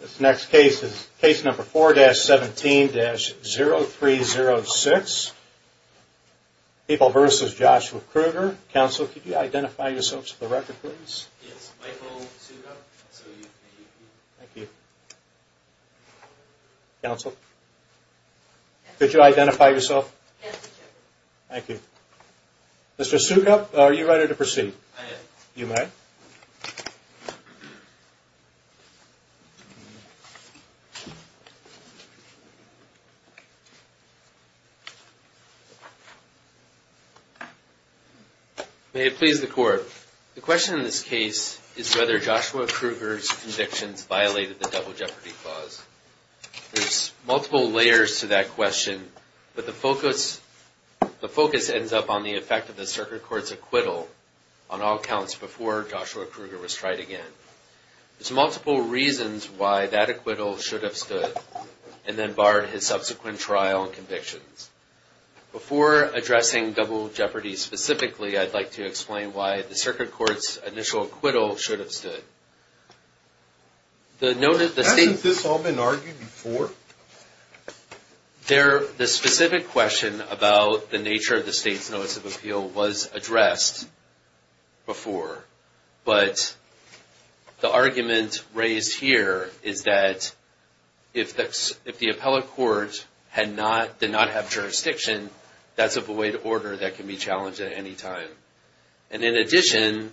This next case is case number 4-17-0306. People v. Joshua Krueger. Counsel, could you identify yourself for the record, please? It's Michael Sukup. Counsel, could you identify yourself? Thank you. Mr. Sukup, are you ready to proceed? I am. You may. May it please the Court. The question in this case is whether Joshua Krueger's convictions violated the double jeopardy clause. The focus ends up on the effect of the circuit court's acquittal on all counts before Joshua Krueger was tried again. There's multiple reasons why that acquittal should have stood and then barred his subsequent trial and convictions. Before addressing double jeopardy specifically, I'd like to explain why the circuit court's initial acquittal should have stood. Hasn't this all been argued before? The specific question about the nature of the state's notice of appeal was addressed before. But the argument raised here is that if the appellate court did not have jurisdiction, that's a void order that can be challenged at any time. And in addition,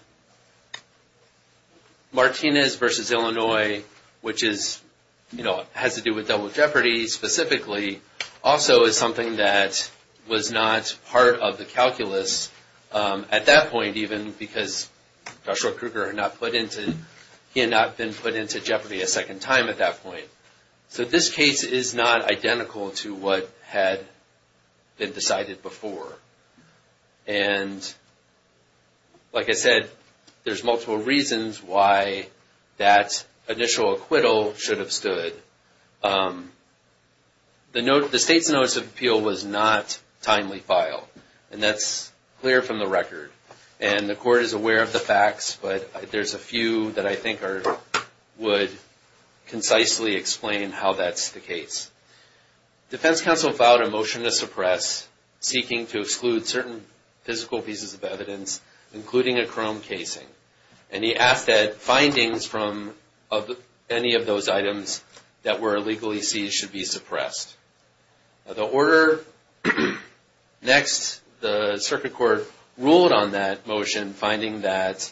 Martinez v. Illinois, which has to do with double jeopardy specifically, also is something that was not part of the calculus at that point, even because Joshua Krueger had not been put into jeopardy a second time at that point. So this case is not identical to what had been decided before. And like I said, there's multiple reasons why that initial acquittal should have stood. The state's notice of appeal was not timely filed, and that's clear from the record. And the court is aware of the facts, but there's a few that I think would concisely explain how that's the case. Defense counsel filed a motion to suppress, seeking to exclude certain physical pieces of evidence, including a chrome casing. And he asked that findings from any of those items that were illegally seized should be suppressed. The order next, the circuit court ruled on that motion, in finding that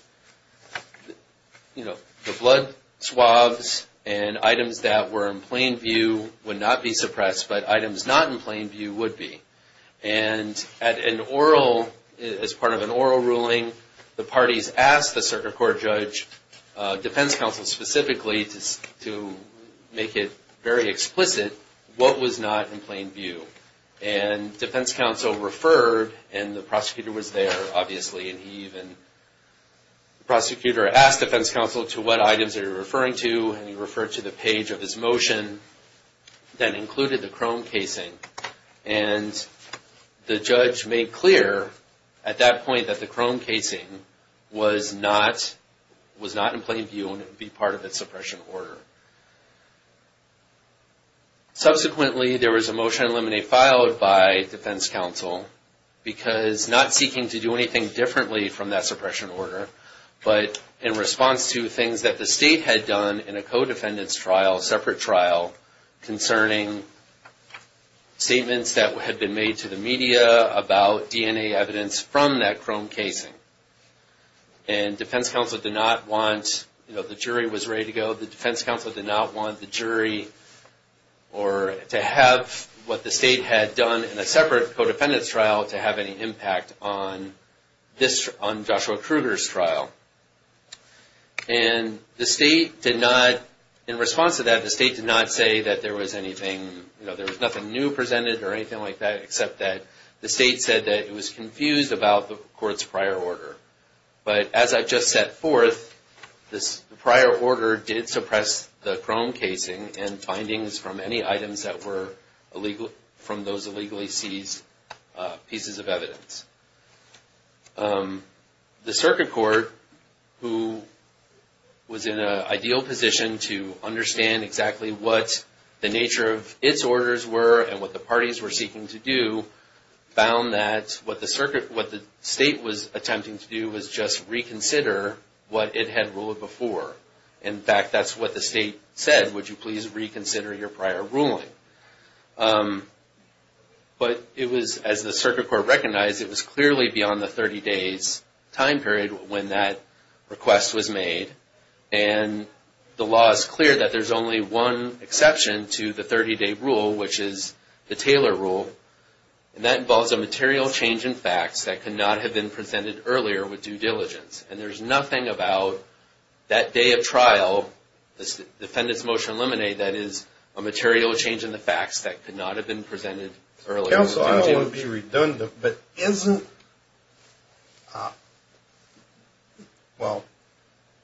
the blood swabs and items that were in plain view would not be suppressed, but items not in plain view would be. And as part of an oral ruling, the parties asked the circuit court judge, defense counsel specifically, to make it very explicit what was not in plain view. And defense counsel referred, and the prosecutor was there, obviously, and the prosecutor asked defense counsel to what items they were referring to, and he referred to the page of his motion that included the chrome casing. And the judge made clear at that point that the chrome casing was not in plain view and would be part of its suppression order. Subsequently, there was a motion to eliminate filed by defense counsel, because not seeking to do anything differently from that suppression order, but in response to things that the state had done in a co-defendant's trial, separate trial, concerning statements that had been made to the media about DNA evidence from that chrome casing. And defense counsel did not want, you know, the jury was ready to go. The defense counsel did not want the jury or to have what the state had done in a separate co-defendant's trial to have any impact on Joshua Kruger's trial. And the state did not, in response to that, the state did not say that there was anything, you know, there was nothing new presented or anything like that, except that the state said that it was confused about the court's prior order. But as I've just set forth, this prior order did suppress the chrome casing and findings from any items that were from those illegally seized pieces of evidence. The circuit court, who was in an ideal position to understand exactly what the nature of its orders were and what the parties were seeking to do, found that what the circuit, what the state was attempting to do was just reconsider what it had ruled before. In fact, that's what the state said, would you please reconsider your prior ruling. But it was, as the circuit court recognized, it was clearly beyond the 30 days time period when that request was made. And the law is clear that there's only one exception to the 30 day rule, which is the Taylor rule. And that involves a material change in facts that could not have been presented earlier with due diligence. And there's nothing about that day of trial, the defendant's motion eliminate, that is a material change in the facts that could not have been presented earlier. Counsel, I don't want to be redundant, but isn't, well,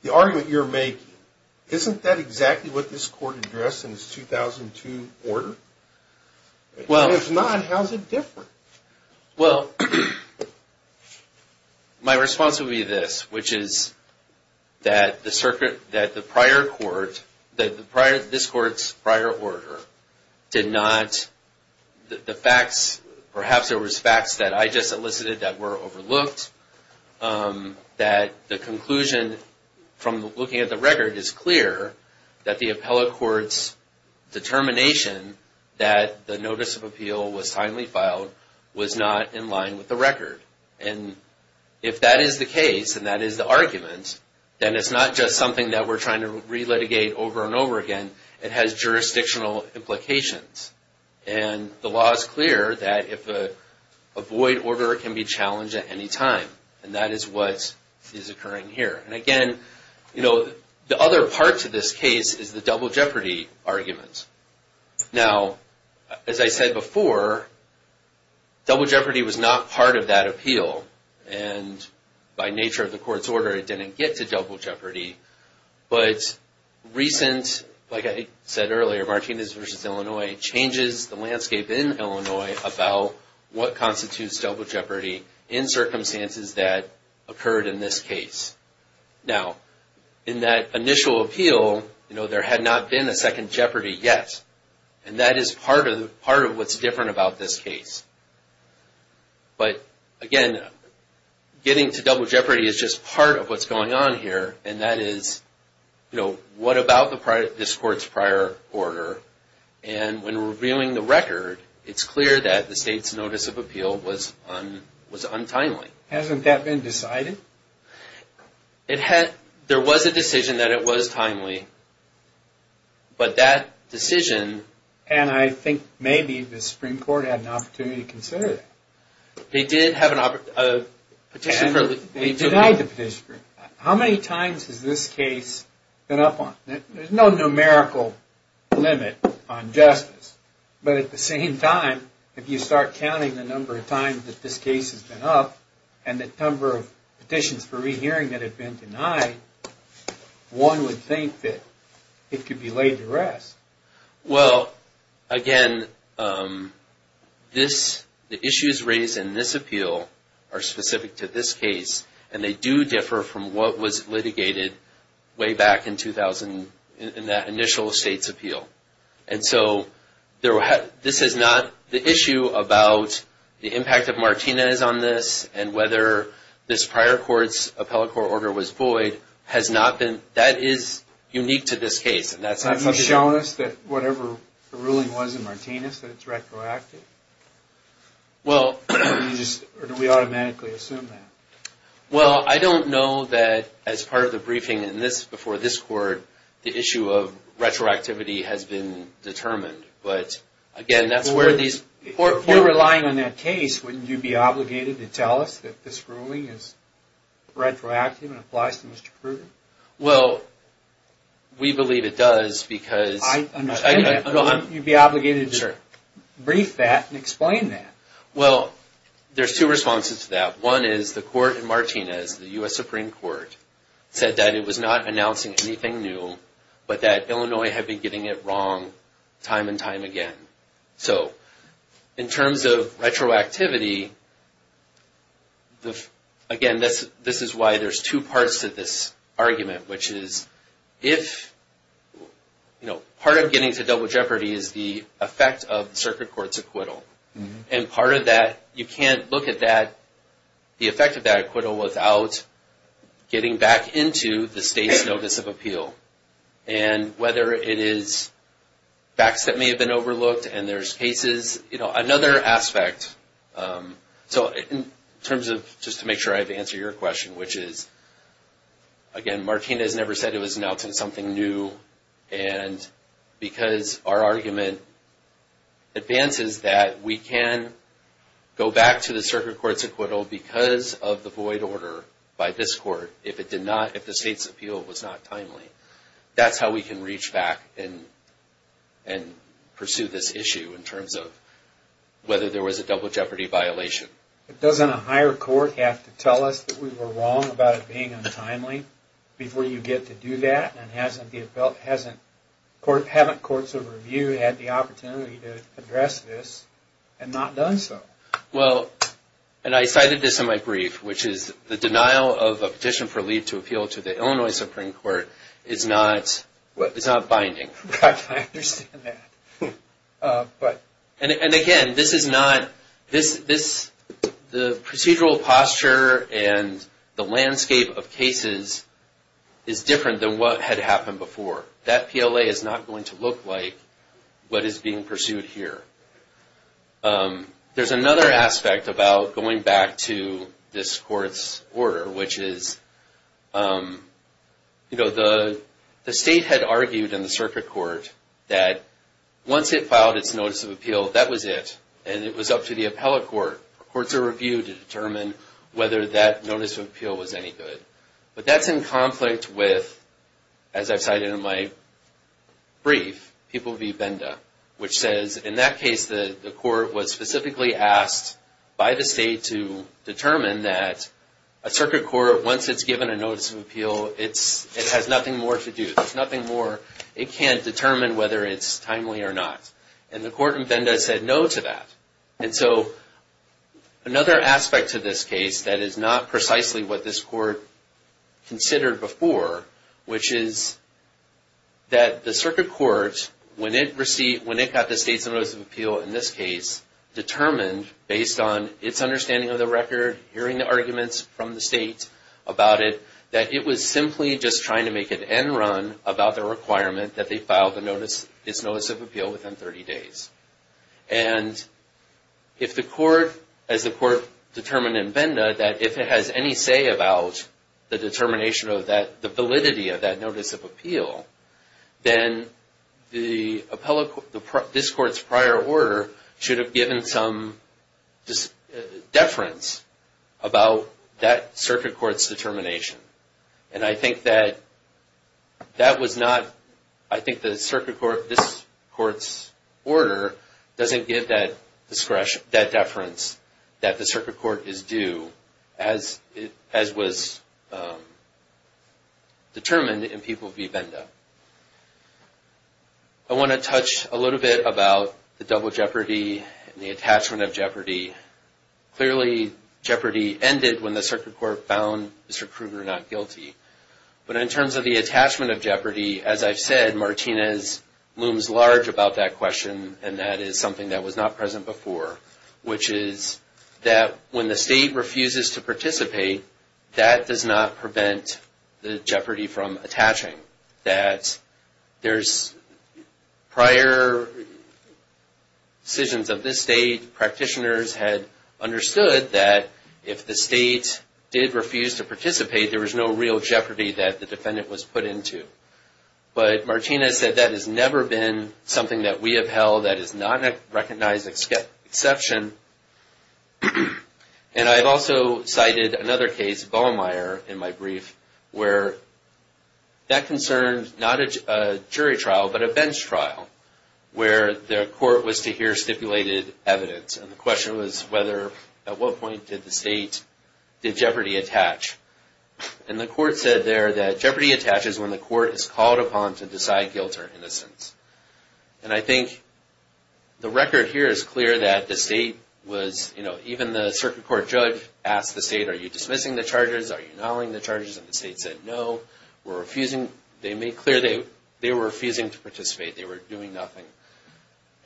the argument you're making, isn't that exactly what this court addressed in its 2002 order? If not, how's it different? Well, my response would be this, which is that the circuit, that the prior court, this court's prior order did not, the facts, perhaps there was facts that I just elicited that were overlooked, that the conclusion from looking at the record is clear that the appellate court's determination that the notice of appeal was timely filed was not in line with the record. And if that is the case, and that is the argument, then it's not just something that we're trying to re-litigate over and over again. It has jurisdictional implications. And the law is clear that if a void order can be challenged at any time. And that is what is occurring here. And again, you know, the other part to this case is the double jeopardy argument. Now, as I said before, double jeopardy was not part of that appeal. And by nature of the court's order, it didn't get to double jeopardy. But recent, like I said earlier, Martinez v. Illinois changes the landscape in Illinois about what constitutes double jeopardy in circumstances that occurred in this case. Now, in that initial appeal, you know, there had not been a second jeopardy yet. And that is part of what's different about this case. But again, getting to double jeopardy is just part of what's going on here. And that is, you know, what about this court's prior order? And when reviewing the record, it's clear that the state's notice of appeal was untimely. Hasn't that been decided? There was a decision that it was timely. But that decision... And I think maybe the Supreme Court had an opportunity to consider that. They did have a petition... They denied the petition. How many times has this case been up on? There's no numerical limit on justice. But at the same time, if you start counting the number of times that this case has been up and the number of petitions for rehearing that have been denied, one would think that it could be laid to rest. Well, again, the issues raised in this appeal are specific to this case. And they do differ from what was litigated way back in that initial state's appeal. And so this is not... The issue about the impact of Martinez on this and whether this prior court's appellate court order was void has not been... That is unique to this case. Have you shown us that whatever the ruling was in Martinez, that it's retroactive? Or do we automatically assume that? Well, I don't know that as part of the briefing before this court, the issue of retroactivity has been determined. But, again, that's where these... If you're relying on that case, wouldn't you be obligated to tell us that this ruling is retroactive and applies to Mr. Pruden? Well, we believe it does because... I understand that, but wouldn't you be obligated to brief that and explain that? Well, there's two responses to that. One is the court in Martinez, the U.S. Supreme Court, said that it was not announcing anything new, but that Illinois had been getting it wrong time and time again. So, in terms of retroactivity, again, this is why there's two parts to this argument, which is if... Part of getting to double jeopardy is the effect of the circuit court's acquittal. And part of that, you can't look at the effect of that acquittal without getting back into the state's notice of appeal. And whether it is facts that may have been overlooked and there's cases... Another aspect... So, in terms of... Just to make sure I've answered your question, which is... Again, Martinez never said it was announcing something new. And because our argument advances that we can go back to the circuit court's acquittal because of the void order by this court if the state's appeal was not timely. That's how we can reach back and pursue this issue in terms of whether there was a double jeopardy violation. Doesn't a higher court have to tell us that we were wrong about it being untimely before you get to do that? And haven't courts of review had the opportunity to address this and not done so? Well, and I cited this in my brief, which is the denial of a petition for leave to appeal to the Illinois Supreme Court is not binding. I understand that. But... And again, this is not... The procedural posture and the landscape of cases is different than what had happened before. That PLA is not going to look like what is being pursued here. There's another aspect about going back to this court's order, which is... The state had argued in the circuit court that once it filed its notice of appeal, that was it. And it was up to the appellate court, courts of review, to determine whether that notice of appeal was any good. But that's in conflict with, as I've cited in my brief, people v. Benda, which says in that case the court was specifically asked by the state to determine that a circuit court, once it's given a notice of appeal, it has nothing more to do. There's nothing more. It can't determine whether it's timely or not. And the court in Benda said no to that. And so another aspect to this case that is not precisely what this court considered before, which is that the circuit court, when it got the state's notice of appeal in this case, determined, based on its understanding of the record, hearing the arguments from the state about it, that it was simply just trying to make an end run about the requirement that they file its notice of appeal within 30 days. And if the court, as the court determined in Benda, that if it has any say about the determination of that, the validity of that notice of appeal, then this court's prior order should have given some deference about that circuit court's determination. And I think that that was not, I think the circuit court, this court's order doesn't give that deference that the circuit court is due as was determined in people v. Benda. I want to touch a little bit about the double jeopardy and the attachment of jeopardy. Clearly, jeopardy ended when the circuit court found Mr. Kruger not guilty. But in terms of the attachment of jeopardy, as I've said, Martinez looms large about that question, and that is something that was not present before, which is that when the state refuses to participate, that does not prevent the jeopardy from attaching. That there's prior decisions of this state. Practitioners had understood that if the state did refuse to participate, there was no real jeopardy that the defendant was put into. But Martinez said that has never been something that we have held that is not a recognized exception. And I've also cited another case, Vollemeier, in my brief, where that concerned not a jury trial, but a bench trial, where the court was to hear stipulated evidence. And the question was whether, at what point did the state, did jeopardy attach? And the court said there that jeopardy attaches when the court is called upon to decide guilt or innocence. And I think the record here is clear that the state was, you know, even the circuit court judge asked the state, are you dismissing the charges? Are you annulling the charges? And the state said, no, we're refusing. They made clear they were refusing to participate. They were doing nothing.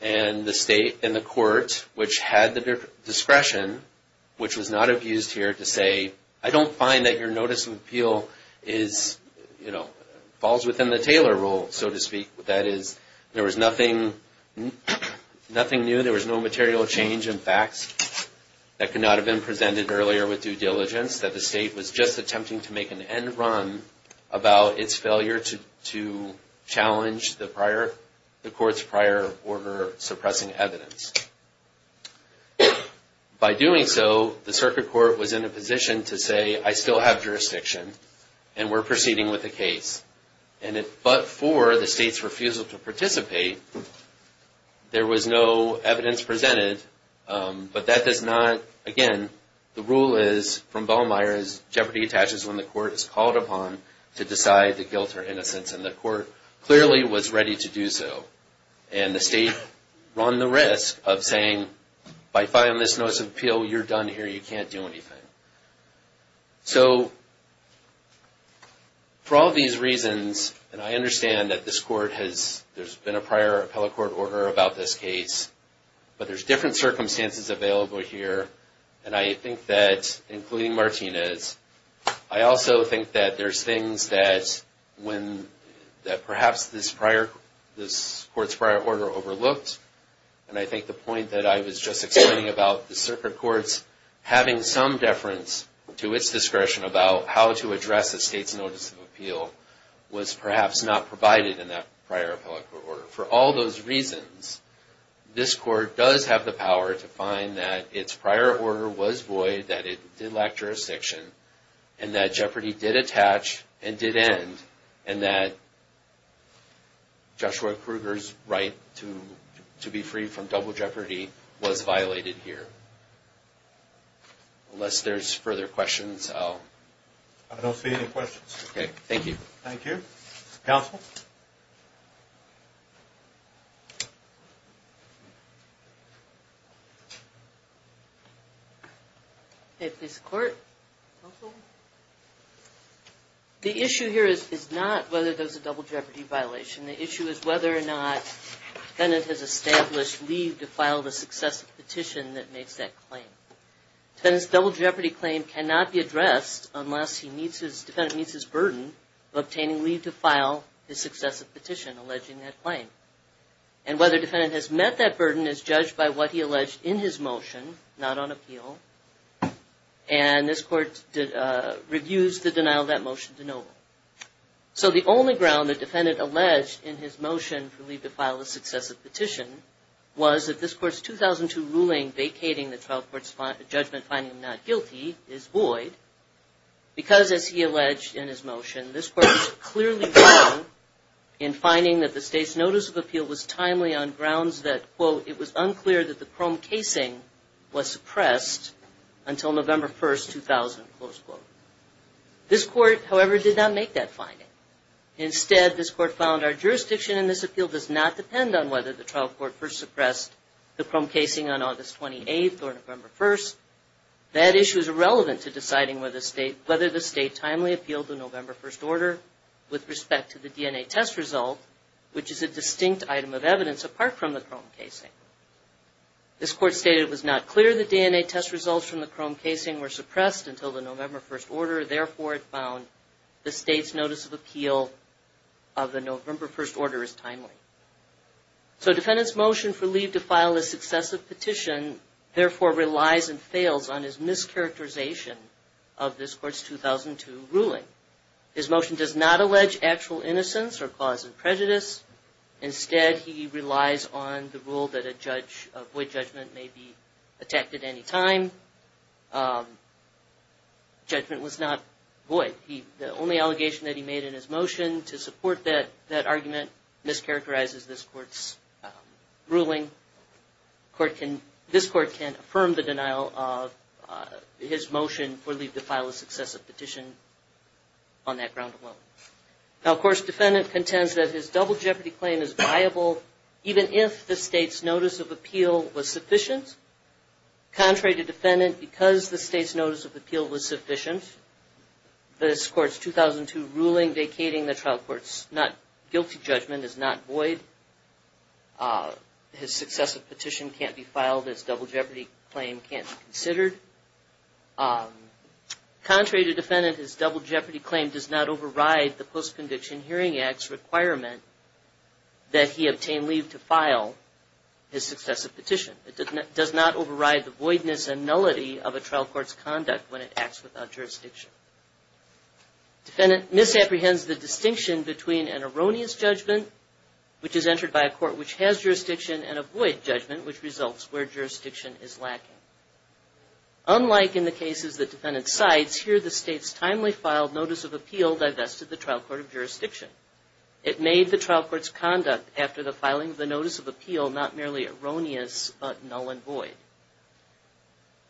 And the state and the court, which had the discretion, which was not abused here to say, I don't find that your notice of appeal is, you know, falls within the Taylor rule, so to speak. That is, there was nothing new, there was no material change in facts that could not have been presented earlier with due diligence, that the state was just attempting to make an end run about its failure to challenge the court's prior order suppressing evidence. By doing so, the circuit court was in a position to say, I still have jurisdiction, and we're proceeding with the case. But for the state's refusal to participate, there was no evidence presented, but that does not, again, the rule is from Ballmeyer's Jeopardy Attaches when the court is called upon to decide the guilt or innocence, and the court clearly was ready to do so. And the state run the risk of saying, by filing this notice of appeal, you're done here, you can't do anything. So, for all these reasons, and I understand that this court has, there's been a prior appellate court order about this case, but there's different circumstances available here, and I think that, including Martinez, I also think that there's things that when, that perhaps this prior, this court's prior order overlooked, and I think the point that I was just explaining about the circuit court's having some deference to its discretion about how to address the state's notice of appeal was perhaps not provided in that prior appellate court order. For all those reasons, this court does have the power to find that its prior order was void, that it did lack jurisdiction, and that Jeopardy did attach and did end, and that Joshua Kruger's right to be free from double jeopardy was violated here. Unless there's further questions, I'll... I don't see any questions. Okay, thank you. Thank you. Counsel? Counsel? Okay, please support. Counsel? The issue here is not whether there's a double jeopardy violation. The issue is whether or not defendant has established leave to file the successive petition that makes that claim. Defendant's double jeopardy claim cannot be addressed unless he meets his, his burden of obtaining leave to file his successive petition alleging that claim. And whether defendant has met that burden is judged by what he alleged in his motion, not on appeal, and this court reviews the denial of that motion to no avail. So the only ground that defendant alleged in his motion for leave to file a successive petition was that this court's 2002 ruling vacating the trial court's judgment finding him not guilty is void because, as he alleged in his motion, this court was clearly wrong in finding that the state's notice of appeal was timely on grounds that, quote, it was unclear that the chrome casing was suppressed until November 1st, 2000, close quote. This court, however, did not make that finding. Instead, this court found our jurisdiction in this appeal does not depend on whether the trial court first suppressed the chrome casing on August 28th or November 1st. That issue is irrelevant to deciding whether the state timely appealed the November 1st order with respect to the DNA test result, which is a distinct item of evidence apart from the chrome casing. This court stated it was not clear the DNA test results from the chrome casing were suppressed until the November 1st order. Therefore, it found the state's notice of appeal of the November 1st order is timely. So defendant's motion for leave to file a successive petition, therefore, relies and fails on his mischaracterization of this court's 2002 ruling. His motion does not allege actual innocence or cause of prejudice. Instead, he relies on the rule that a judge, a void judgment may be attacked at any time. Judgment was not void. The only allegation that he made in his motion to support that argument mischaracterizes this court's ruling. This court can't affirm the denial of his motion for leave to file a successive petition on that ground alone. Now, of course, defendant contends that his double jeopardy claim is viable even if the state's notice of appeal was sufficient. Contrary to defendant, because the state's notice of appeal was sufficient, this court's 2002 ruling vacating the trial court's guilty judgment is not void. His successive petition can't be filed. His double jeopardy claim can't be considered. Contrary to defendant, his double jeopardy claim does not override the Post-Conviction Hearing Act's requirement that he does not override the voidness and nullity of a trial court's conduct when it acts without jurisdiction. Defendant misapprehends the distinction between an erroneous judgment, which is entered by a court which has jurisdiction, and a void judgment, which results where jurisdiction is lacking. Unlike in the cases that defendant cites, here the state's timely filed notice of appeal divested the trial court of jurisdiction. It made the trial court's conduct after the filing of the notice of appeal not merely erroneous, but null and void.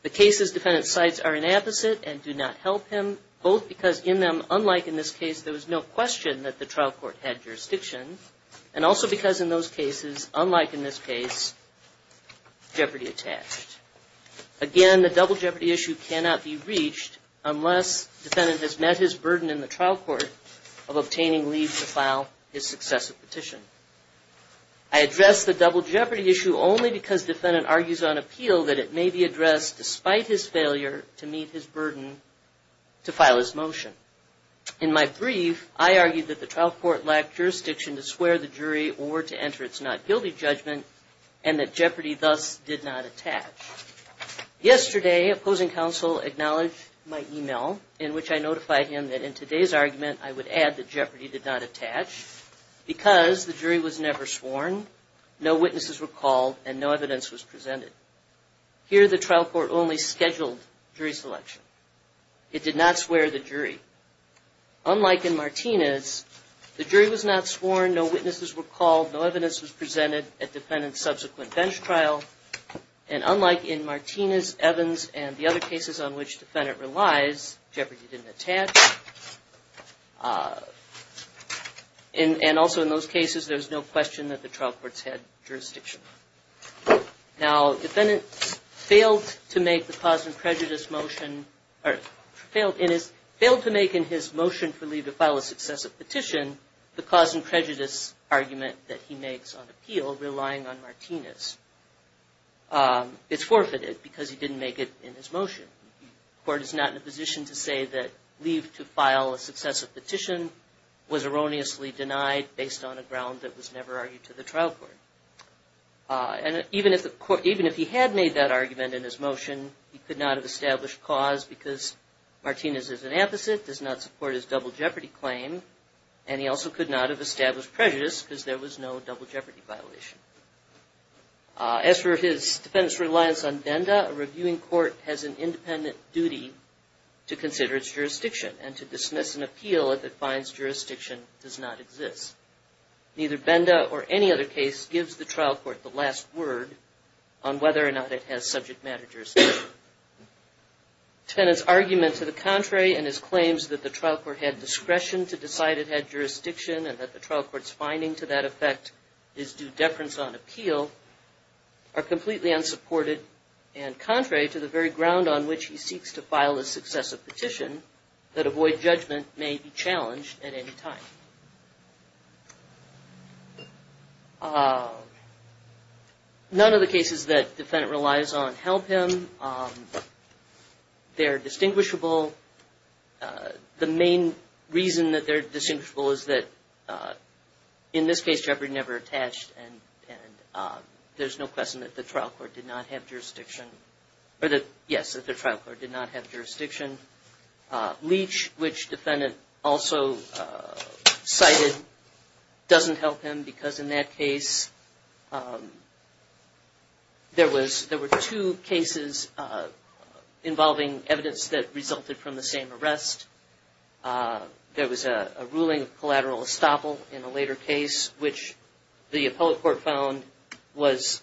The cases defendant cites are an opposite and do not help him, both because in them, unlike in this case, there was no question that the trial court had jurisdiction, and also because in those cases, unlike in this case, jeopardy attached. Again, the double jeopardy issue cannot be reached unless defendant has met his burden in the trial court of obtaining leave to file his successive petition. I address the double jeopardy issue only because defendant argues on appeal that it may be addressed despite his failure to meet his burden to file his motion. In my brief, I argued that the trial court lacked jurisdiction to swear the jury or to enter its not guilty judgment, and that jeopardy thus did not attach. Yesterday, opposing counsel acknowledged my email, in which I notified him that in today's argument, I would add that jeopardy did not attach because the jury was never sworn, no witnesses were called, and no evidence was presented. Here, the trial court only scheduled jury selection. It did not swear the jury. Unlike in Martinez, the jury was not sworn, no witnesses were called, no evidence was presented at defendant's subsequent bench trial, and unlike in Martinez, Evans, and the other cases on which defendant relies, jeopardy didn't attach. And also in those cases, there's no question that the trial court's had jurisdiction. Now, defendant failed to make the cause and prejudice motion, or failed to make in his motion for leave to file a successive petition the cause and prejudice argument that he makes on appeal, relying on Martinez. It's forfeited because he didn't make it in his motion. The court is not in a position to say that leave to file a successive petition was erroneously denied based on a ground that was never argued to the trial court. And even if he had made that argument in his motion, he could not have established cause because Martinez is an amphisit, does not support his double jeopardy claim, and he also could not have established prejudice because there was no double jeopardy violation. As for his defendant's reliance on Benda, a reviewing court has an independent duty to consider its jurisdiction and to dismiss an appeal if it finds jurisdiction does not exist. Neither Benda or any other case gives the trial court the last word on whether or not it has subject matter jurisdiction. Defendant's argument to the contrary in his claims that the trial court had discretion to decide it had jurisdiction and that the trial court's finding to that effect is due deference on appeal are completely unsupported and contrary to the very ground on which he seeks to file a successive petition that avoid judgment may be challenged at any time. None of the cases that defendant relies on help him. They're distinguishable. The main reason that they're distinguishable is that in this case jeopardy never attached and there's no question that the trial court did not have jurisdiction or that, yes, that the trial court did not have jurisdiction. Leach, which defendant also cited, doesn't help him because in that case there were two cases involving evidence that came from the same arrest. There was a ruling of collateral estoppel in a later case, which the appellate court found was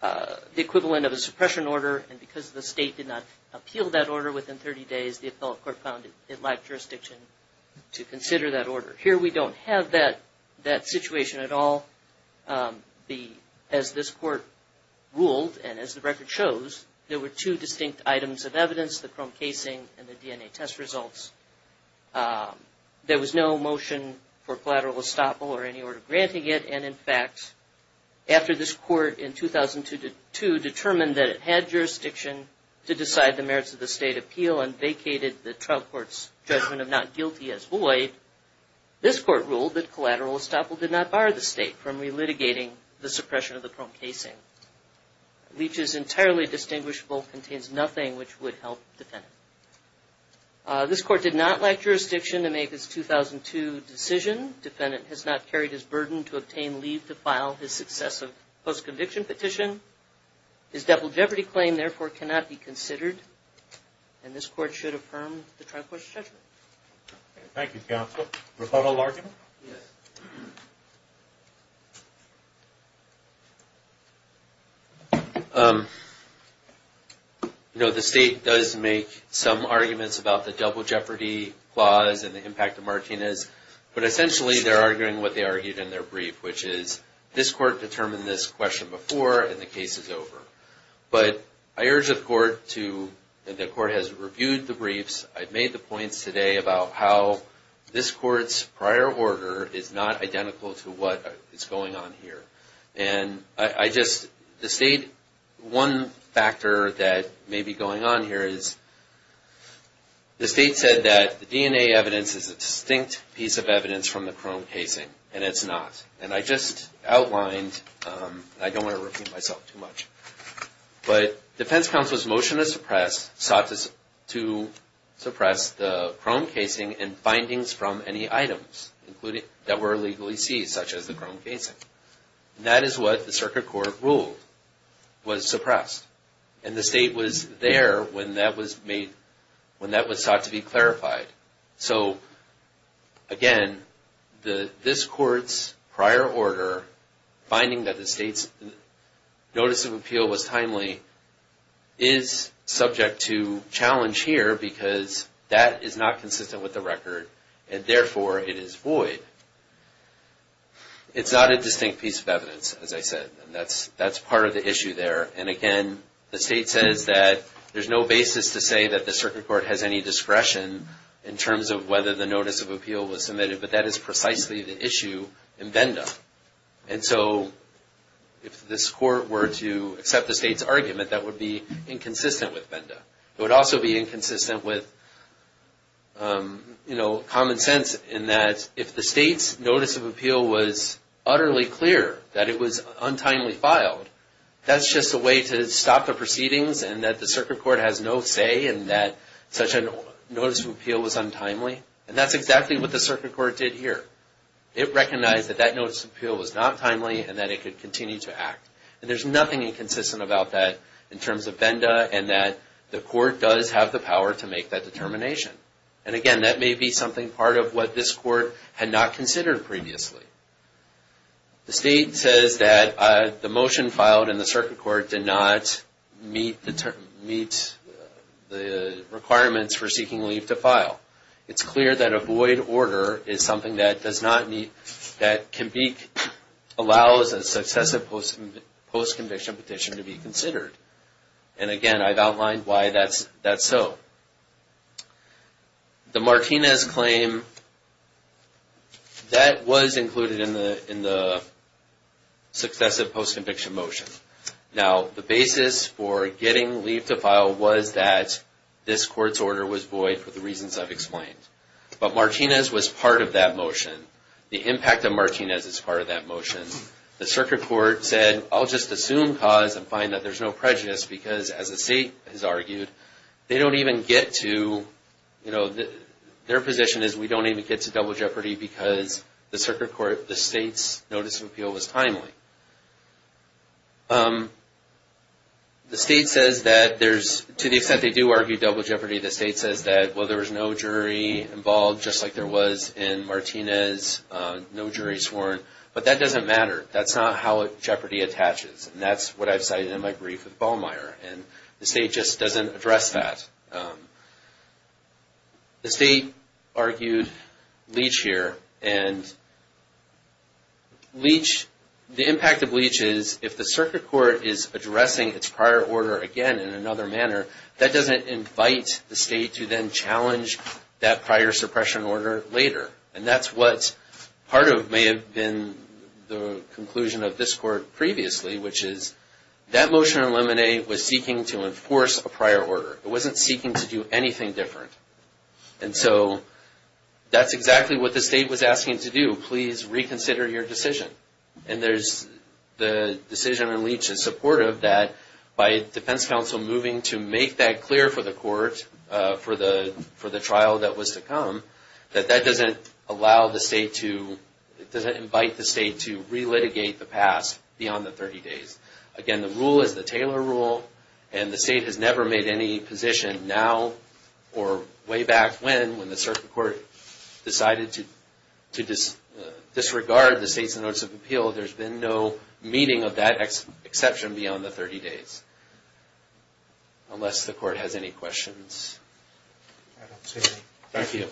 the equivalent of a suppression order. And because the state did not appeal that order within 30 days, the appellate court found it lacked jurisdiction to consider that order. Here we don't have that situation at all. As this court ruled and as the record shows, there were two distinct items of evidence, the chrome casing and the DNA test results. There was no motion for collateral estoppel or any order granting it and, in fact, after this court in 2002 determined that it had jurisdiction to decide the merits of the state appeal and vacated the trial court's judgment of not guilty as void, this court ruled that the appellate court was violating the suppression of the chrome casing. Leach is entirely distinguishable, contains nothing which would help the defendant. This court did not lack jurisdiction to make its 2002 decision. Defendant has not carried his burden to obtain leave to file his successive post-conviction petition. His double jeopardy claim, therefore, cannot be considered and this court should affirm the trial court's judgment. Thank you, counsel. Rebuttal argument? No, the state does make some arguments about the double jeopardy clause and the impact of Martinez. But essentially they're arguing what they argued in their brief, which is this court determined this question before and the case is over. But I urge the court to, the court has reviewed the briefs. I've made the points today about how this court's prior order is not identical to what is going on here. And I just, the state, one factor that may be going on here is the state said that the DNA evidence is a distinct piece of evidence from the chrome casing and it's not. And I just outlined, I don't want to repeat myself too much. But defense counsel's motion to suppress sought to suppress the chrome casing and findings from any items that were illegally seized, such as the chrome casing. And that is what the circuit court ruled was suppressed. And the state was there when that was made, when that was sought to be clarified. So, again, this court's prior order, finding that the state's notice of obstruction of justice, notice of appeal was timely, is subject to challenge here because that is not consistent with the record and therefore it is void. It's not a distinct piece of evidence, as I said. And that's part of the issue there. And again, the state says that there's no basis to say that the circuit court has any discretion in terms of whether the notice of appeal was submitted. But that is precisely the issue in VENDA. And so if this court were to accept the state's argument, that would be inconsistent with VENDA. It would also be inconsistent with common sense in that if the state's notice of appeal was utterly clear that it was untimely filed, that's just a way to stop the proceedings and that the circuit court has no say in that such a notice of appeal was untimely. And that's exactly what the circuit court did here. It recognized that that notice of appeal was not timely and that it could continue to act. And there's nothing inconsistent about that in terms of VENDA and that the court does have the power to make that determination. And again, that may be something part of what this court had not considered previously. The state says that the motion filed in the circuit court did not meet the requirements for seeking leave to file. It's clear that a void order is something that allows a successive post-conviction petition to be considered. And again, I've outlined why that's so. The Martinez claim, that was included in the successive post-conviction motion. Now, the basis for getting leave to file was that this court's order was void for the reasons I've explained. But Martinez was part of that motion. The impact of Martinez is part of that motion. The circuit court said, I'll just assume cause and find that there's no prejudice because as the state has argued, their position is we don't even get to double jeopardy because the circuit court, the state's notice of appeal was timely. The state says that there's, to the extent they do argue double jeopardy, the state says that, well, there was no jury involved just like there was in Martinez, no jury sworn, but that doesn't matter. That's not how jeopardy attaches. And that's what I've cited in my brief with Ballmeyer. And the state just doesn't address that. The state argued Leach here. And Leach, the impact of Leach is if the circuit court is addressing its prior order again in another manner, that doesn't invite the state to then challenge that prior suppression order later. And that's what part of may have been the conclusion of this court previously, which is that motion in Lemonade was seeking to enforce a prior order. It wasn't seeking to do anything different. And so that's exactly what the state was asking to do. Please reconsider your decision. And the decision in Leach is supportive that by defense counsel moving to make that clear for the court for the trial that was to come, that that doesn't allow the state to, it doesn't invite the state to relitigate the past beyond the 30 days. Again, the rule is the Taylor rule, and the state has never made any position now or way back when, when the circuit court decided to disregard the state's notice of appeal. There's been no meeting of that exception beyond the 30 days. Unless the court has any questions. Thank you.